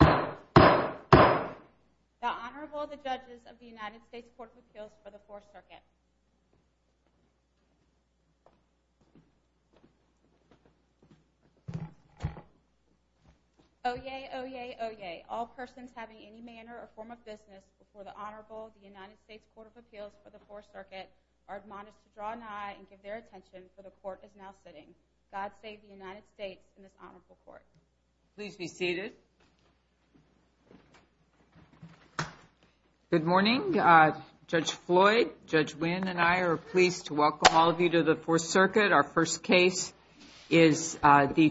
The Honorable, the Judges of the United States Court of Appeals for the Fourth Circuit. Oyez, oyez, oyez, all persons having any manner or form of business before the Honorable, the United States Court of Appeals for the Fourth Circuit, are admonished to draw an eye and give their attention, for the Court is now sitting. God save the United States and this Honorable Court. Please be seated. Good morning. Judge Floyd, Judge Wynn, and I are pleased to welcome all of you to the Fourth Circuit. Our first case is the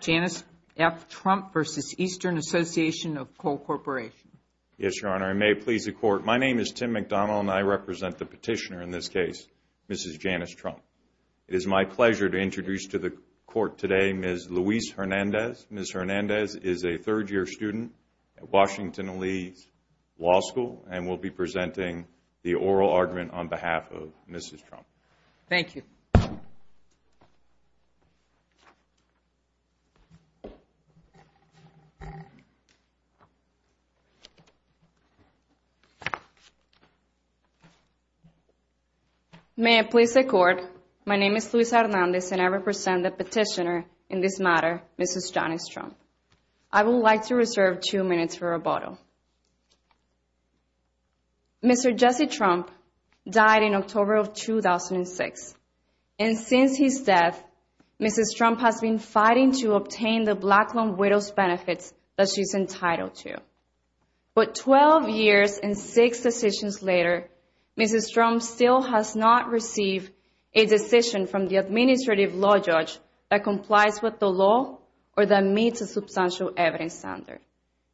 Janice F. Trump v. Eastern Association of Coal Corporation. Yes, Your Honor. I may please the Court. My name is Tim McDonald, and I represent the petitioner in this case, Mrs. Janice Trump. It is my pleasure to introduce to the Court today Ms. Luis Hernandez. Ms. Hernandez is a third-year student at Washington and Lee Law School, and will be presenting the oral argument on behalf of Mrs. Trump. Thank you. May I please the Court. My name is Luis Hernandez, and I represent the petitioner in this matter, Mrs. Janice Trump. I would like to reserve two minutes for rebuttal. Mr. Jesse Trump died in October of 2006, and since his death, Mrs. Trump has been fighting to obtain the black loan widow's benefits that she is entitled to. But 12 years and six decisions later, Mrs. Trump still has not received a decision from the administrative law judge that complies with the law or that meets a substantial evidence standard.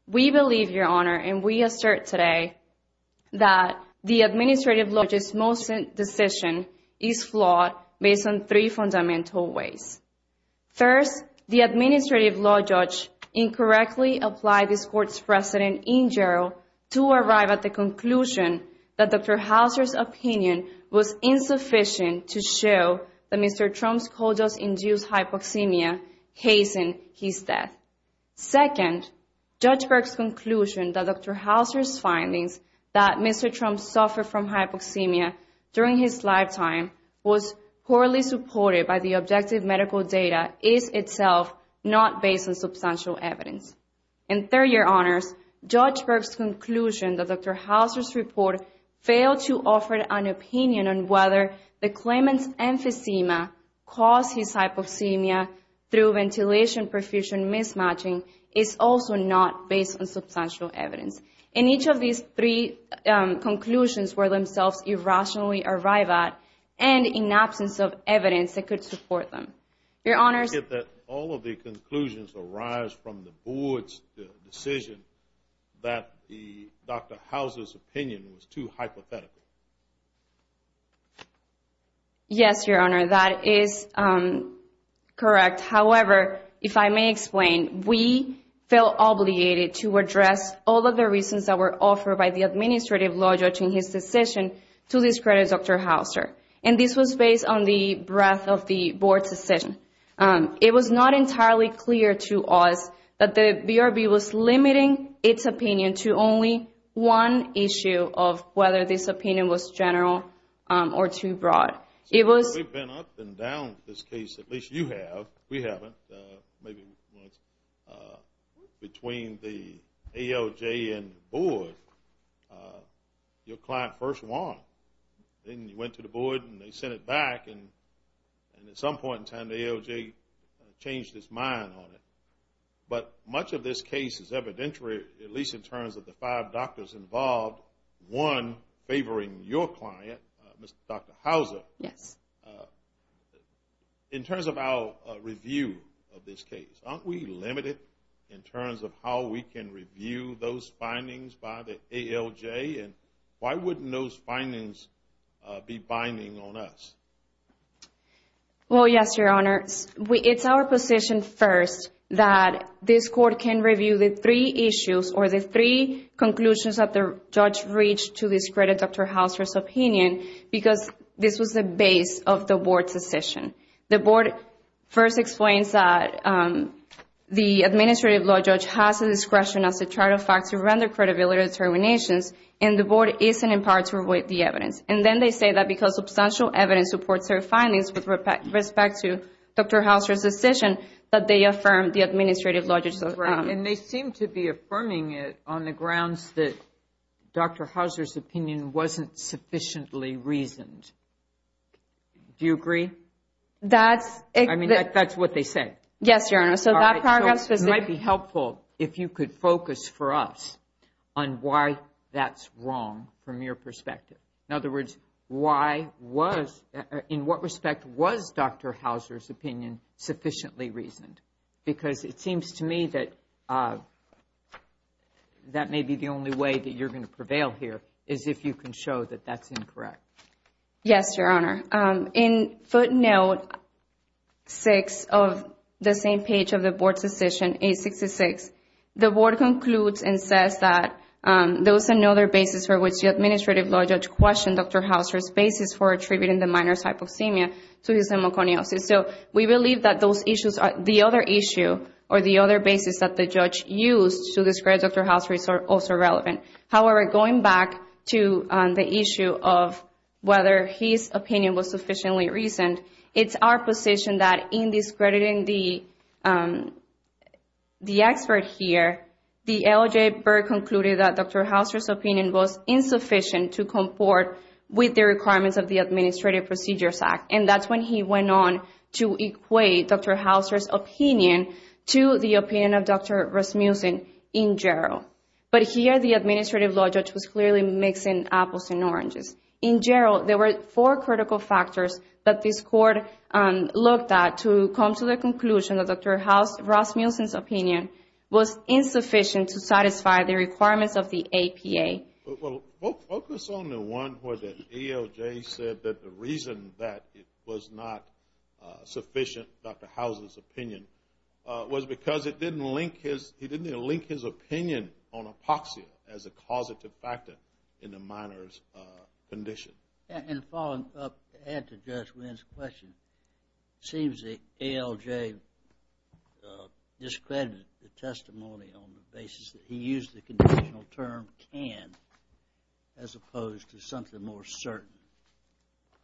We believe, Your Honor, and we assert today that the administrative law judge's most recent decision is flawed based on three fundamental ways. First, the administrative law judge incorrectly applied this Court's precedent in general to arrive at the conclusion that Dr. Hauser's opinion was insufficient to show that Mr. Trump's coal dust-induced hypoxemia hastened his death. Second, Judge Burke's conclusion that Dr. Hauser's findings that Mr. Trump suffered from hypoxemia during his lifetime was poorly supported by the objective medical data is itself not based on substantial evidence. And third, Your Honors, Judge Burke's conclusion that Dr. Hauser's report failed to offer an opinion on whether the claimant's emphysema caused his hypoxemia through ventilation perfusion mismatch. is also not based on substantial evidence. And each of these three conclusions were themselves irrationally arrived at and in absence of evidence that could support them. Your Honors, I get that all of the conclusions arise from the Board's decision that Dr. Hauser's opinion was too hypothetical. Yes, Your Honor, that is correct. However, if I may explain, we felt obligated to address all of the reasons that were offered by the administrative law judge in his decision to discredit Dr. Hauser. And this was based on the breadth of the Board's decision. It was not entirely clear to us that the BRB was limiting its opinion to only one issue of whether this opinion was general or too broad. We've been up and down this case, at least you have. We haven't. Between the ALJ and the Board, your client first won. Then you went to the Board and they sent it back. And at some point in time, the ALJ changed its mind on it. But much of this case is evidentiary, at least in terms of the five doctors involved, one favoring your client, Dr. Hauser. Yes. In terms of our review of this case, aren't we limited in terms of how we can review those findings by the ALJ? And why wouldn't those findings be binding on us? Well, yes, Your Honor. It's our position first that this Court can review the three issues or the three conclusions that the judge reached to discredit Dr. Hauser's opinion, because this was the base of the Board's decision. The Board first explains that the administrative law judge has the discretion as a trial factor to render credibility determinations, and the Board isn't empowered to revoke the evidence. And then they say that because substantial evidence supports their findings with respect to Dr. Hauser's decision, that they affirm the administrative logic. And they seem to be affirming it on the grounds that Dr. Hauser's opinion wasn't sufficiently reasoned. Do you agree? That's what they say. Yes, Your Honor. All right, so it might be helpful if you could focus for us on why that's wrong from your perspective. In other words, in what respect was Dr. Hauser's opinion sufficiently reasoned? Because it seems to me that that may be the only way that you're going to prevail here, is if you can show that that's incorrect. Yes, Your Honor. In footnote 6 of the same page of the Board's decision, 866, the Board concludes and says that there was another basis for which the administrative law judge questioned Dr. Hauser's basis for attributing the minor's hypoxemia to his hemoconiosis. So we believe that those issues are the other issue or the other basis that the judge used to discredit Dr. Hauser is also relevant. However, going back to the issue of whether his opinion was sufficiently reasoned, it's our position that in discrediting the expert here, the LJ Berg concluded that Dr. Hauser's opinion was insufficient to comport with the requirements of the Administrative Procedures Act. And that's when he went on to equate Dr. Hauser's opinion to the opinion of Dr. Rasmussen in general. But here, the administrative law judge was clearly mixing apples and oranges. In general, there were four critical factors that this Court looked at to come to the conclusion that Dr. Hauser, Rasmussen's opinion was insufficient to satisfy the requirements of the APA. Well, focus on the one where the DOJ said that the reason that it was not sufficient, Dr. Hauser's opinion, was because it didn't link his, it didn't even link his opinion to the APA. It was based on apoxia as a causative factor in the minor's condition. And following up, to add to Judge Wynn's question, it seems that ALJ discredited the testimony on the basis that he used the conditional term, can, as opposed to something more certain.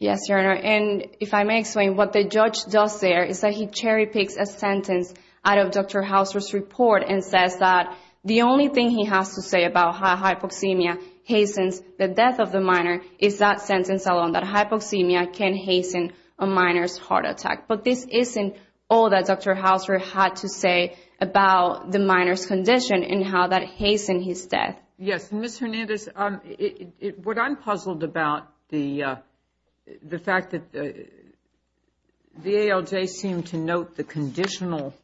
Yes, Your Honor, and if I may explain, what the judge does there is that he cherry-picks a sentence out of Dr. Hauser's report and says that the only thing he can say is, the only thing he has to say about how hypoxemia hastens the death of the minor is that sentence alone, that hypoxemia can hasten a minor's heart attack. But this isn't all that Dr. Hauser had to say about the minor's condition and how that hastened his death. Yes, and Ms. Hernandez, what I'm puzzled about, the fact that the ALJ seemed to note the conditional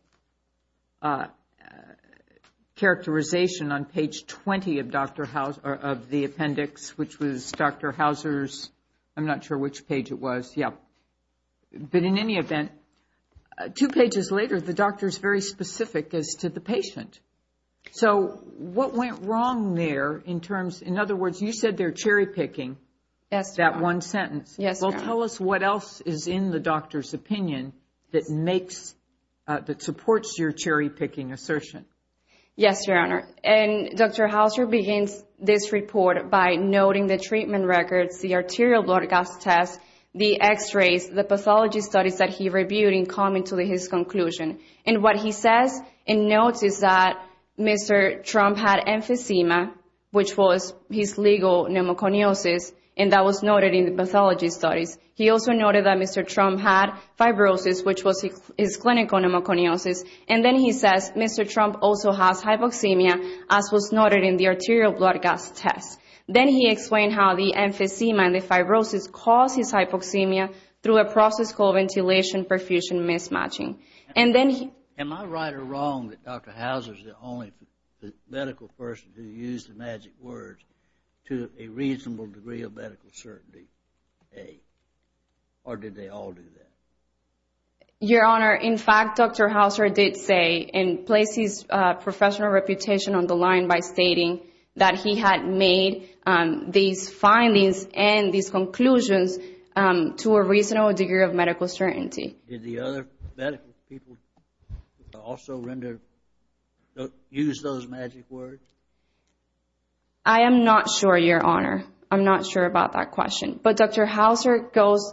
characterization on condition, which was on page 20 of the appendix, which was Dr. Hauser's, I'm not sure which page it was. But in any event, two pages later, the doctor is very specific as to the patient. So what went wrong there in terms, in other words, you said they're cherry-picking that one sentence. Well, tell us what else is in the doctor's opinion that supports your cherry-picking assertion. Yes, Your Honor, and Dr. Hauser begins this report by noting the treatment records, the arterial blood gas test, the x-rays, the pathology studies that he reviewed in coming to his conclusion. And what he says and notes is that Mr. Trump had emphysema, which was his legal pneumoconiosis, and that was noted in the pathology studies. He also noted that Mr. Trump had fibrosis, which was his clinical pneumoconiosis. And then he says Mr. Trump also has hypoxemia, as was noted in the arterial blood gas test. Then he explained how the emphysema and the fibrosis caused his hypoxemia through a process called ventilation perfusion mismatching. Am I right or wrong that Dr. Hauser is the only medical person who used the magic words to a reasonable degree of medical certainty? Or did they all do that? Your Honor, in fact, Dr. Hauser did say and place his professional reputation on the line by stating that he had made these findings and these conclusions to a reasonable degree of medical certainty. Did the other medical people also use those magic words? I am not sure, Your Honor. I'm not sure about that question. But Dr. Hauser goes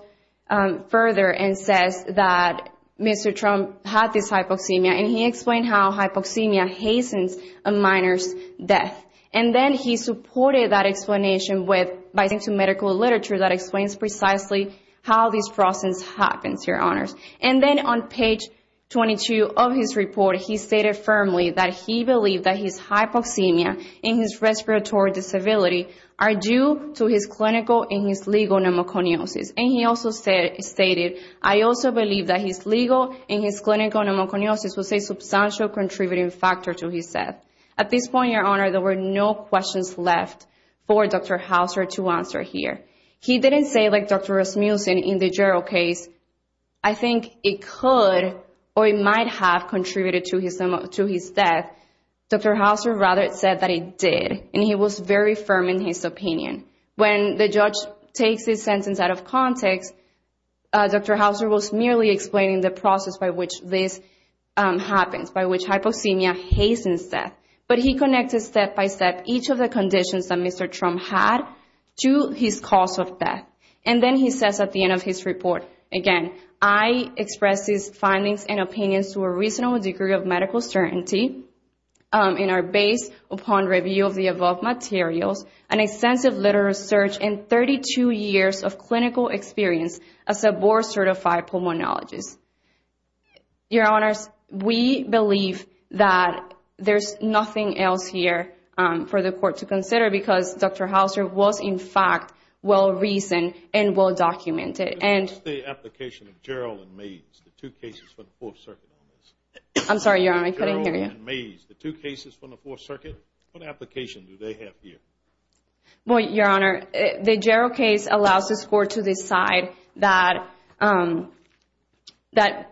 further and says that Mr. Trump had this hypoxemia, and he explained how hypoxemia hastens a minor's death. And then he supported that explanation by citing medical literature that explains precisely how this process happens, Your Honor. And then on page 22 of his report, he stated firmly that he believed that his hypoxemia and his respiratory disability are due to his clinical and his legal condition. And he also stated, I also believe that his legal and his clinical pneumoconiosis was a substantial contributing factor to his death. At this point, Your Honor, there were no questions left for Dr. Hauser to answer here. He didn't say, like Dr. Rasmussen in the Gerald case, I think it could or it might have contributed to his death. Dr. Hauser rather said that it did, and he was very firm in his opinion. When the judge takes his sentence out of context, Dr. Hauser was merely explaining the process by which this happens, by which hypoxemia hastens death. But he connected step by step each of the conditions that Mr. Trump had to his cause of death. And then he says at the end of his report, again, I express these findings and opinions to a reasonable degree of medical certainty, and are based upon review of the above materials and extensive literal research and 32 years of clinical experience as a board-certified pulmonologist. Your Honors, we believe that there's nothing else here for the Court to consider because Dr. Hauser was, in fact, well-reasoned and well-documented. The application of Gerald and Mays, the two cases for the Fourth Circuit on this. I'm sorry, Your Honor, I couldn't hear you. Well, Your Honor, the Gerald case allows this Court to decide that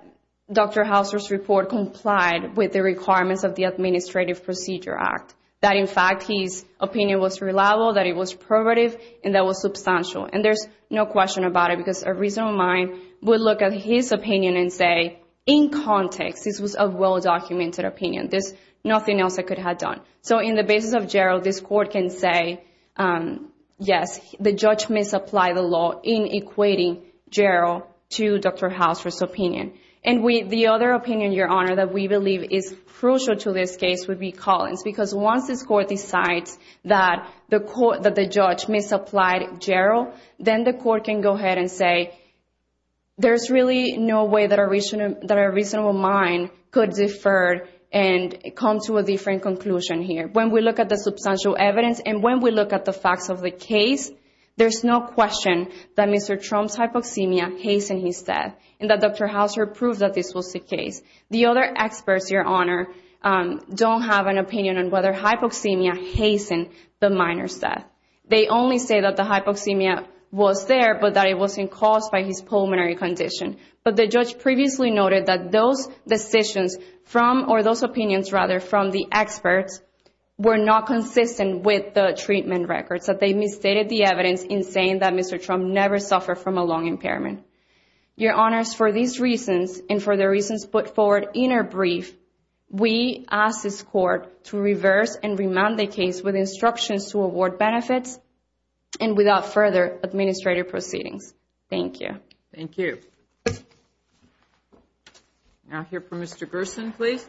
Dr. Hauser's report complied with the requirements of the Administrative Procedure Act. That, in fact, his opinion was reliable, that it was prerogative, and that it was substantial. And there's no question about it because a reasonable mind would look at his opinion and say, in context, this was a well-documented opinion. There's nothing else I could have done. So in the basis of Gerald, this Court can say, yes, the judge may supply the law in equating Gerald to Dr. Hauser's opinion. And the other opinion, Your Honor, that we believe is crucial to this case would be Collins. Because once this Court decides that the judge misapplied Gerald, then the Court can go ahead and say, there's really no way that a reasonable mind could defer and come to a different conclusion here. When we look at the substantial evidence and when we look at the facts of the case, there's no question that Mr. Trump's hypoxemia hastened his death and that Dr. Hauser proved that this was the case. The other experts, Your Honor, don't have an opinion on whether hypoxemia hastened the minor's death. They only say that the hypoxemia was there, but that it wasn't caused by his pulmonary condition. But the judge previously noted that those decisions from, or those opinions, rather, from the experts were not consistent with the treatment records, that they misstated the evidence in saying that Mr. Trump never suffered from a lung impairment. Your Honors, for these reasons, and for the reasons put forward in our brief, we ask this Court to reverse and remand the case with instructions to award benefits and without further administrative proceedings. Thank you. Now I'll hear from Mr. Gerson, please.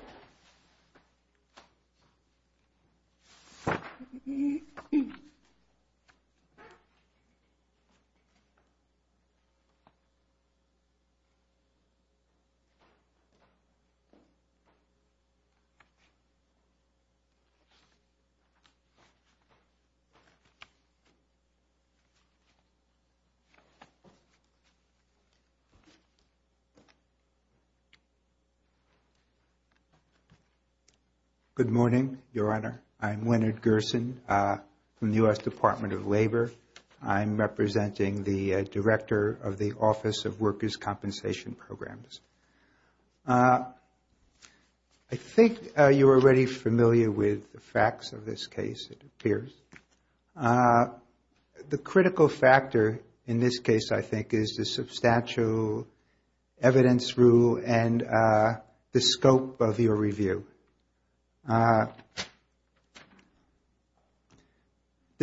Good morning, Your Honor. I'm Leonard Gerson from the U.S. Department of Labor. I'm representing the Director of the Office of Workers' Compensation Programs. I think you're already familiar with the facts of this case, it appears. The critical factor in this case, I think, is the substantial evidence rule and the scope of your review. The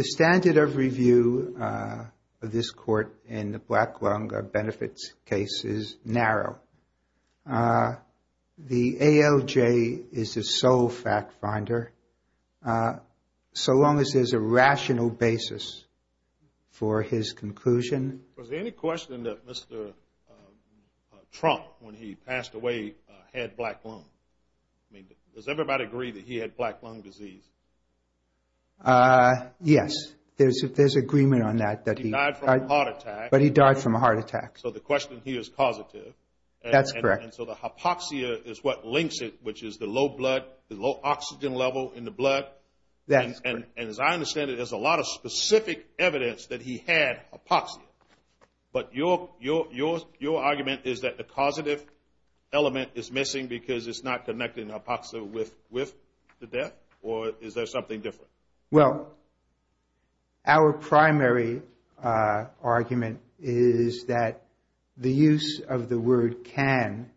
standard of review of this court in the black lung benefits case is narrow. The ALJ is the sole fact finder, so long as there's a rational basis for his conclusion. Was there any question that Mr. Trump, when he passed away, had black lung? Does everybody agree that he had black lung disease? Yes, there's agreement on that. He died from a heart attack. So the hypoxia is what links it, which is the low oxygen level in the blood. And as I understand it, there's a lot of specific evidence that he had hypoxia. But your argument is that the causative element is missing because it's not connecting hypoxia with the death? Or is there something different? Well, our primary argument is that the use of the word can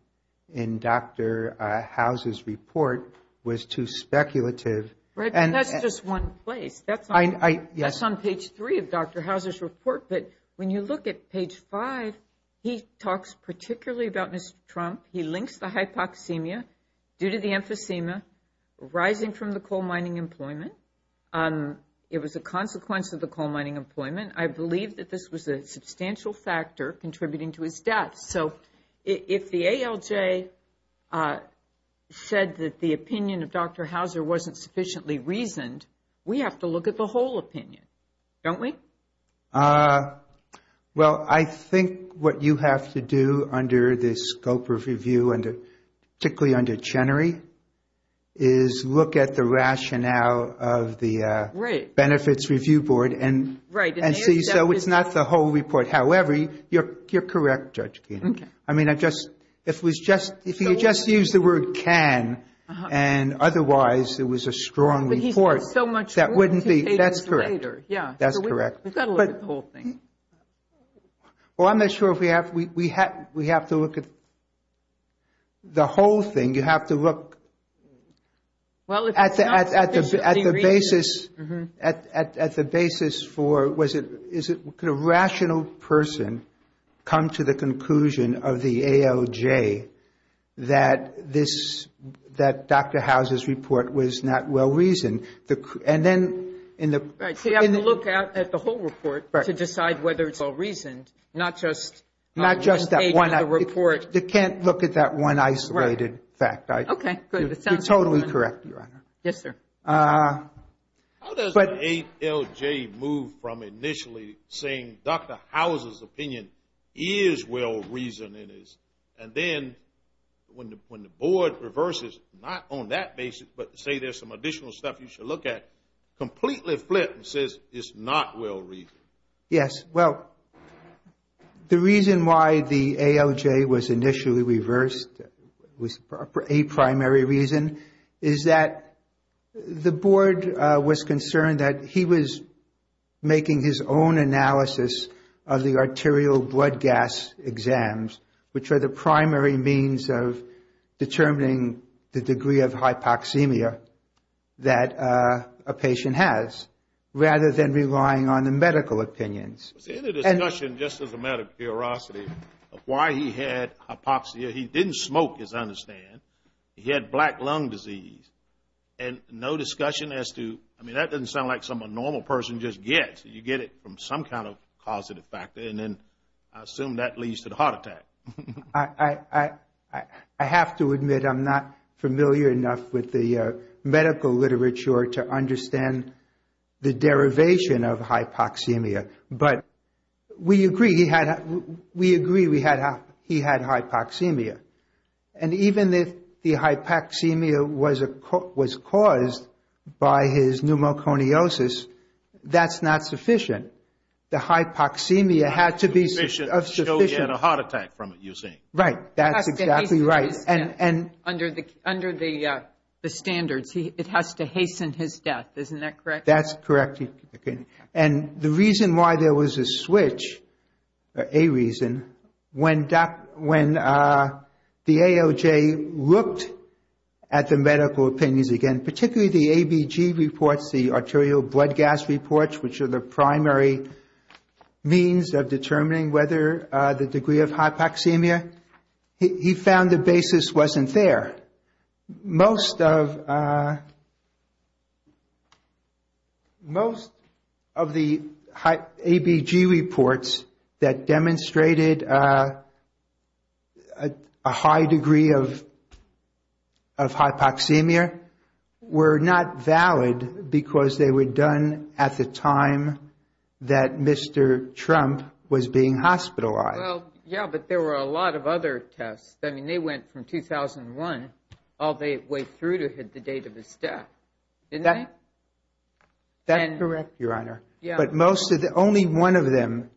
in Dr. Houser's report was too speculative. Right, but that's just one place. That's on page three of Dr. Houser's report. But when you look at page five, he talks particularly about Mr. Trump. He links the hypoxemia due to the emphysema arising from the coal mining employment. It was a consequence of the coal mining employment. I believe that this was a substantial factor contributing to his death. So if the ALJ said that the opinion of Dr. Houser wasn't sufficiently reasoned, we have to look at the whole opinion, don't we? Well, I think what you have to do under the scope of review, particularly under Chenery, is look at the rationale of the Benefits Review Board. So it's not the whole report. However, you're correct, Judge Geen. If you just use the word can and otherwise it was a strong report, that wouldn't be. That's correct. Well, I'm not sure if we have to look at the whole thing. You have to look at the basis for was it could a rational person come to the conclusion of the ALJ that Dr. Houser's report was not well reasoned? You have to look at the whole report to decide whether it's well reasoned, not just one page of the report. You can't look at that one isolated fact. You're totally correct, Your Honor. How does the ALJ move from initially saying Dr. Houser's opinion is well reasoned and then when the board reverses, not on that basis, but say there's some additional stuff you should look at, completely flips and says it's not well reasoned? Yes, well, the reason why the ALJ was initially reversed was a primary reason is that the board was concerned that he was making his own analysis of the arterial blood gas exams, which are the primary means of determining the degree of hypoxemia that a patient has, rather than relying on the medical opinions. Was there any discussion, just as a matter of curiosity, of why he had hypoxia? He didn't smoke, as I understand. He had black lung disease. And no discussion as to, I mean, that doesn't sound like something a normal person just gets. You get it from some kind of causative factor, and then I assume that leads to the heart attack. I have to admit I'm not familiar enough with the medical literature to understand the derivation of hypoxemia. But we agree he had hypoxemia. And even if the hypoxemia was caused by his pneumoconiosis, that's not sufficient. The hypoxemia had to be sufficient. You get a heart attack from it, you see. Right, that's exactly right. Under the standards, it has to hasten his death, isn't that correct? That's correct. And the reason why there was a switch, a reason, when the ALJ looked at the medical opinions again, particularly the ABG reports, the arterial blood gas reports, which are the primary means of determining whether the degree of hypoxemia, he found the basis wasn't there. Most of the ABG reports that demonstrated a high degree of hypoxemia, were not valid because they were done at the time that Mr. Trump was being hospitalized. Well, yeah, but there were a lot of other tests. I mean, they went from 2001 all the way through to the date of his death, didn't they? That's correct, Your Honor. But only one of them,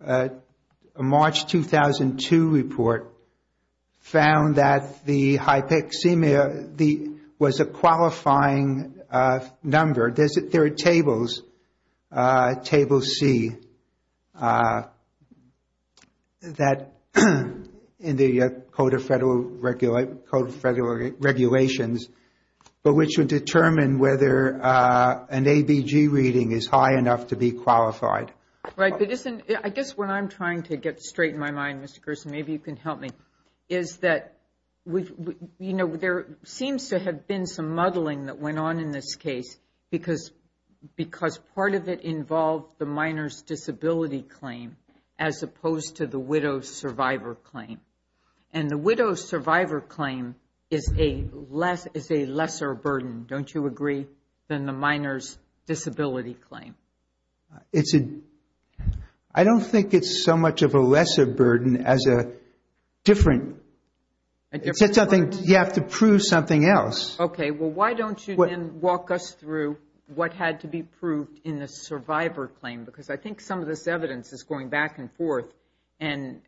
a March 2002 report, found that the hypoxemia was a qualified cause of death. Qualifying number, there are tables, table C, in the Code of Federal Regulations, but which would determine whether an ABG reading is high enough to be qualified. Right, but I guess what I'm trying to get straight in my mind, Mr. Gerson, maybe you can help me, is that, you know, there seems to have been some muddling that went on in this case, because part of it involved the minor's disability claim, as opposed to the widow's survivor claim. And the widow's survivor claim is a lesser burden, don't you agree, than the minor's disability claim? It's a, I don't think it's so much of a lesser burden as a different, you have to prove something else. Okay, well, why don't you then walk us through what had to be proved in the survivor claim, because I think some of this evidence is going back and forth, and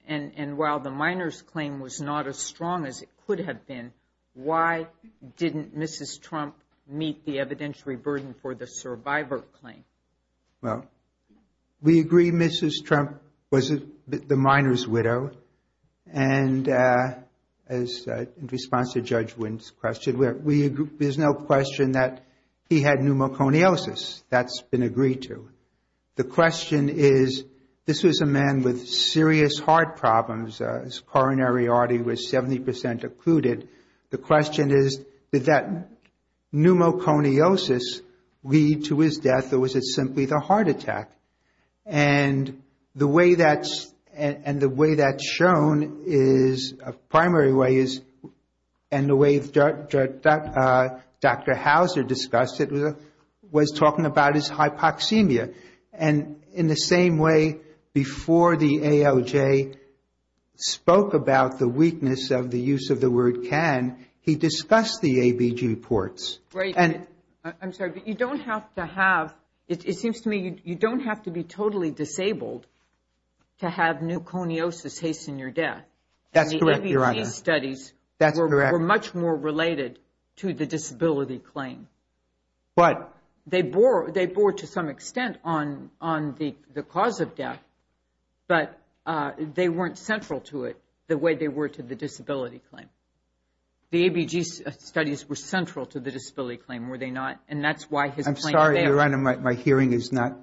while the minor's claim was not as strong as it could have been, why didn't Mrs. Trump meet the evidentiary burden for the survivor claim? Well, we agree Mrs. Trump was the minor's widow, and in response to Judge Wynn's question, there's no question that he had pneumoconiosis, that's been agreed to. The question is, this was a man with serious heart problems, his coronary artery was 70% occluded. The question is, did that pneumoconiosis lead to his death, or was it simply the heart attack? And the way that's shown is, a primary way is, and the way Dr. Hauser discussed it, was talking about his hypoxemia. And in the same way, before the ALJ spoke about the weakness of the use of the word can, he discussed the ABG reports. I'm sorry, but you don't have to have, it seems to me you don't have to be totally disabled to have pneumoconiosis hasten your death. And the ABG studies were much more related to the disability claim. They bore to some extent on the cause of death, but they weren't central to it the way they were to the disability claim. The ABG studies were central to the disability claim, were they not? And that's why his claim is there. I'm sorry, Your Honor, my hearing is not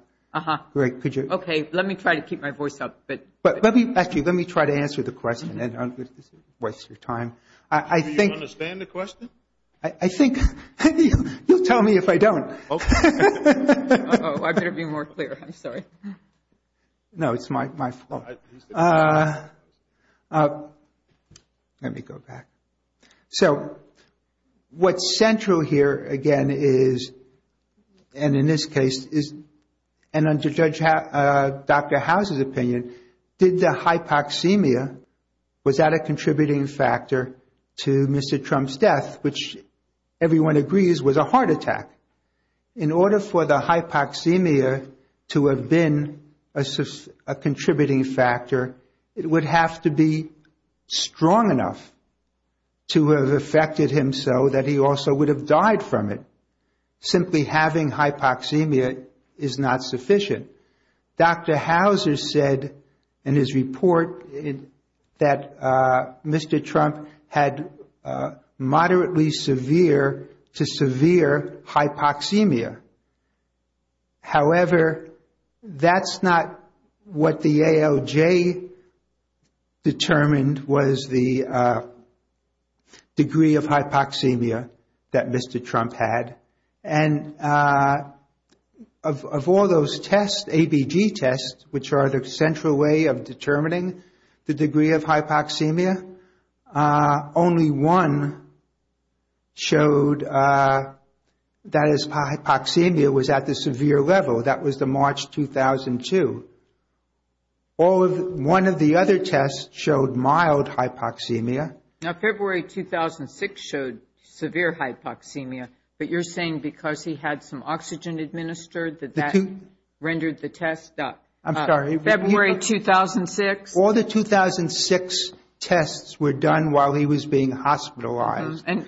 great. Okay, let me try to keep my voice up. Actually, let me try to answer the question. This is a waste of time. Do you understand the question? I think, you'll tell me if I don't. Oh, I better be more clear, I'm sorry. No, it's my fault. Let me go back. So, what's central here, again, is, and in this case, is, and under Judge, Dr. House's opinion, did the hypoxemia, was that a contributing factor to Mr. Trump's death, which everyone agrees was a heart attack. In order for the hypoxemia to have been a contributing factor to Mr. Trump's death, it was a heart attack. If it was a contributing factor, it would have to be strong enough to have affected him so that he also would have died from it. Simply having hypoxemia is not sufficient. Dr. Houser said in his report that Mr. Trump had moderately severe to severe hypoxemia. However, that's not what the ALJ determined was the degree of hypoxemia that Mr. Trump had. And of all those tests, ABG tests, which are the central way of determining the degree of hypoxemia, only one showed that is hypoxemia. Hypoxemia was at the severe level, that was the March 2002. All of, one of the other tests showed mild hypoxemia. Now, February 2006 showed severe hypoxemia, but you're saying because he had some oxygen administered that that rendered the test. I'm sorry. February 2006. All the 2006 tests were done while he was being hospitalized. And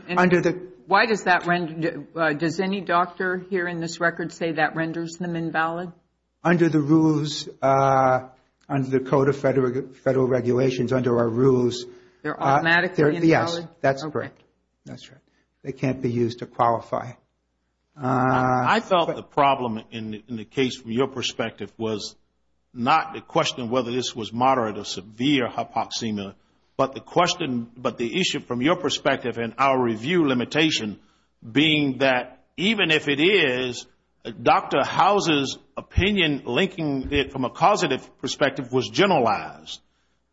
why does that, does any doctor here in this record say that renders them invalid? Under the rules, under the Code of Federal Regulations, under our rules. They're automatically invalid? Yes, that's correct. They can't be used to qualify. I felt the problem in the case from your perspective was not the question of whether this was moderate or severe hypoxemia, but the question, but the issue from your perspective and our review limitation being that even if it is, Dr. House's opinion linking it from a causative perspective was generalized.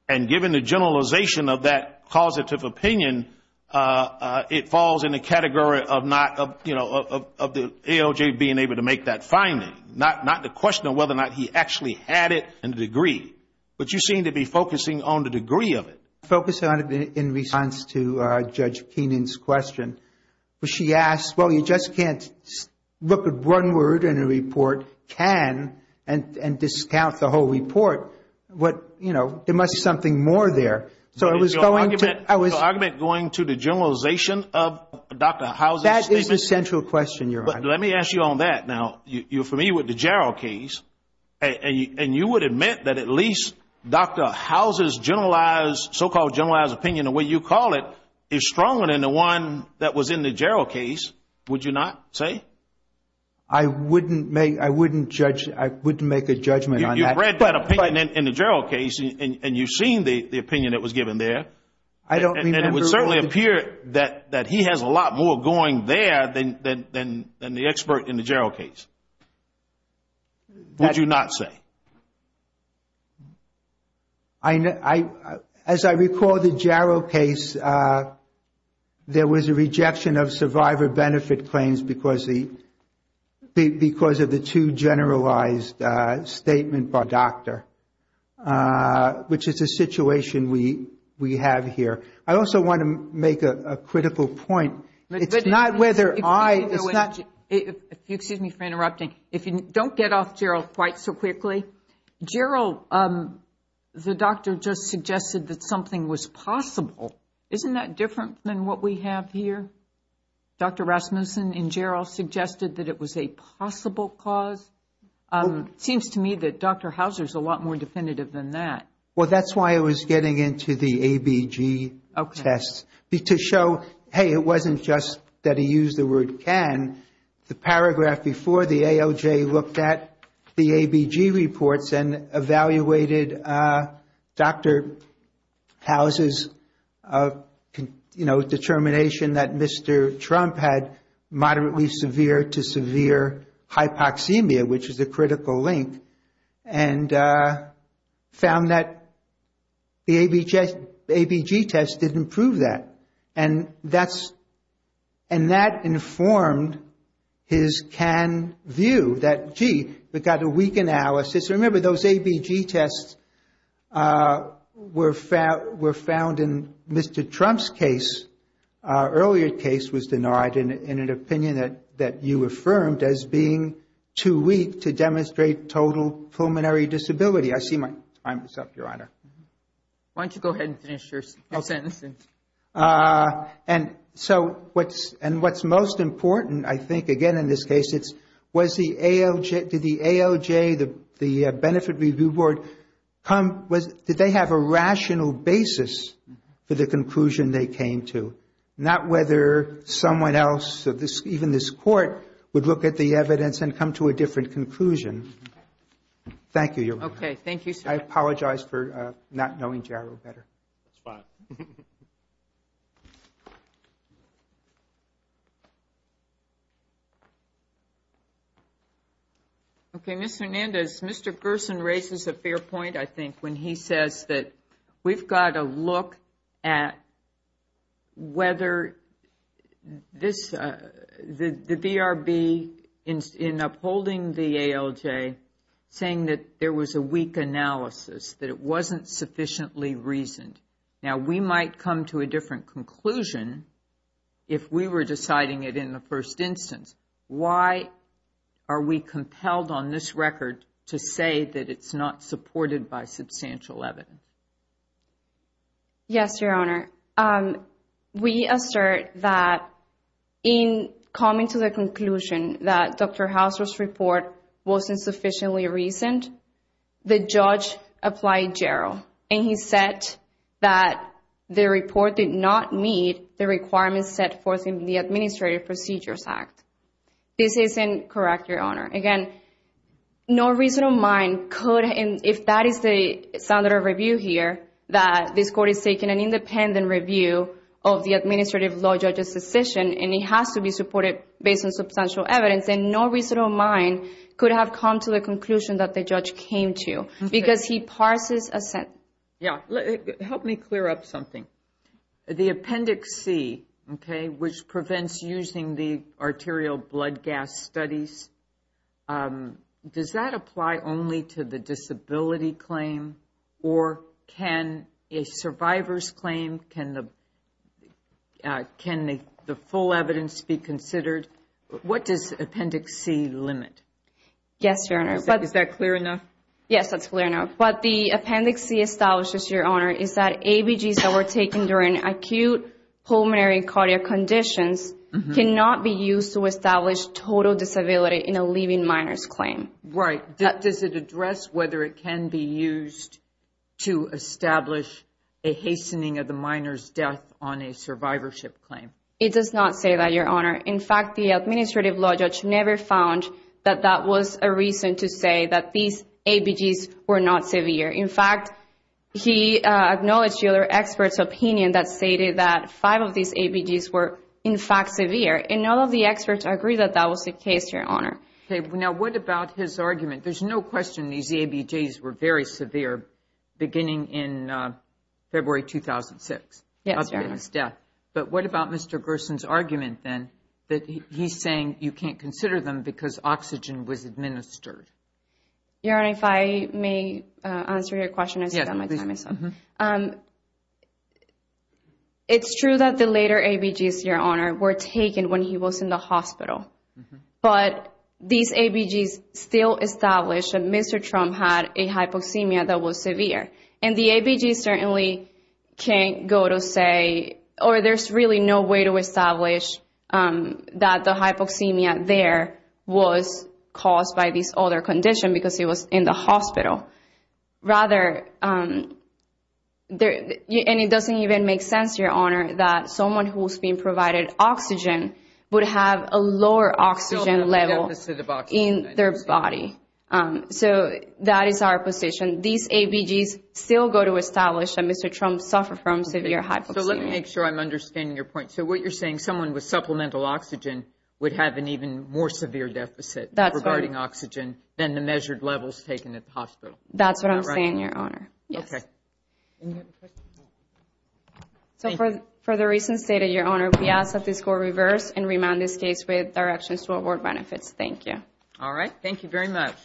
And given the generalization of that causative opinion, it falls in the category of not, you know, of not being a of the ALJ being able to make that finding. Not the question of whether or not he actually had it and the degree. But you seem to be focusing on the degree of it. Focusing on it in response to Judge Keenan's question. She asked, well, you just can't look at one word in a report, can, and discount the whole report. There must be something more there. The argument going to the generalization of Dr. House's statement? That is the central question, Your Honor. Let me ask you on that. Now, you're familiar with the Jarrell case, and you would admit that at least Dr. House's so-called generalized opinion, the way you call it, is stronger than the one that was in the Jarrell case, would you not say? I wouldn't make a judgment on that. You've read that opinion in the Jarrell case, and you've seen the opinion that was given there. And it would certainly appear that he has a lot more going there than the expert in the Jarrell case. Would you not say? As I recall the Jarrell case, there was a rejection of survivor benefit claims because of the too generalized statement by Dr. Which is a situation we have here. I also want to make a critical point. It's not whether I Excuse me for interrupting. Don't get off Jarrell quite so quickly. Jarrell, the doctor just suggested that something was possible. Isn't that different than what we have here? Dr. Rasmussen in Jarrell suggested that it was a possible cause. Seems to me that Dr. Houser is a lot more definitive than that. Well, that's why I was getting into the ABG test. To show, hey, it wasn't just that he used the word can. The paragraph before the AOJ looked at the ABG reports and evaluated Dr. Houser's determination that Mr. Trump had moderately severe to severe hypoxemia, which is a critical link, and found that the ABG test didn't prove that. And that informed his can view that, gee, we've got a weak analysis. Remember those ABG tests were found in Mr. Trump's case. Earlier case was denied in an opinion that you affirmed as being too weak to demonstrate total pulmonary disability. I see my time is up, Your Honor. Why don't you go ahead and finish your sentence? And so what's most important, I think, again, in this case, was the AOJ, did the AOJ, the Benefit Review Board, did they have a rational basis for the conclusion they came to? Not whether someone else, even this court, would look at the evidence and come to a different conclusion. Thank you, Your Honor. I apologize for not knowing Jarrell better. Okay, Ms. Hernandez, Mr. Gerson raises a fair point, I think, when he says that we've got to look at whether the VRB in upholding the AOJ, saying that there was a weak analysis, that it wasn't sufficiently reasoned. Now we might come to a different conclusion if we were deciding it in the first instance. Why are we compelled on this record to say that it's not supported by substantial evidence? Yes, Your Honor. We assert that in coming to the conclusion that Dr. Gerson, the judge applied Jarrell, and he said that the report did not meet the requirements set forth in the Administrative Procedures Act. This isn't correct, Your Honor. Again, no reasonable mind could, if that is the standard of review here, that this court is taking an independent review of the administrative law judge's decision, and it has to be supported based on this issue, because he parses a set... Help me clear up something. The Appendix C, which prevents using the arterial blood gas studies, does that apply only to the disability claim, or can a survivor's claim, can the full evidence be considered? What does Appendix C limit? Yes, that's clear enough. But the Appendix C establishes, Your Honor, is that ABGs that were taken during acute pulmonary and cardiac conditions cannot be used to establish total disability in a living minor's claim. Right. Does it address whether it can be used to establish a hastening of the minor's death on a survivorship claim? It does not say that, Your Honor. In fact, the administrative law judge never found that that was a reason to say that these ABGs were not severe. In fact, he acknowledged the other experts' opinion that stated that five of these ABGs were, in fact, severe, and none of the experts agree that that was the case, Your Honor. Okay. Now, what about his argument? There's no question these ABGs were very severe beginning in February 2006. Yes, Your Honor. But what about Mr. Gerson's argument, then, that he's saying you can't consider them because oxygen was administered? Your Honor, if I may answer your question? Yes, please. It's true that the later ABGs, Your Honor, were taken when he was in the hospital, but these ABGs still establish that Mr. Trump had a hypoxemia that was severe. And the ABGs certainly can't go to say, or there's really no way to establish that the hypoxemia there was caused by this other condition because he was in the hospital. And it doesn't even make sense, Your Honor, that someone who was being provided oxygen would have a lower oxygen level in their body. So that is our position. These ABGs still go to establish that Mr. Trump suffered from severe hypoxemia. So let me make sure I'm understanding your point. So what you're saying, someone with supplemental oxygen would have an even more severe deficit regarding oxygen than the measured levels taken at the hospital. That's what I'm saying, Your Honor. So for the reasons stated, Your Honor, we ask that this court reverse and remand this case with directions to award benefits. Thank you. All right. Thank you very much.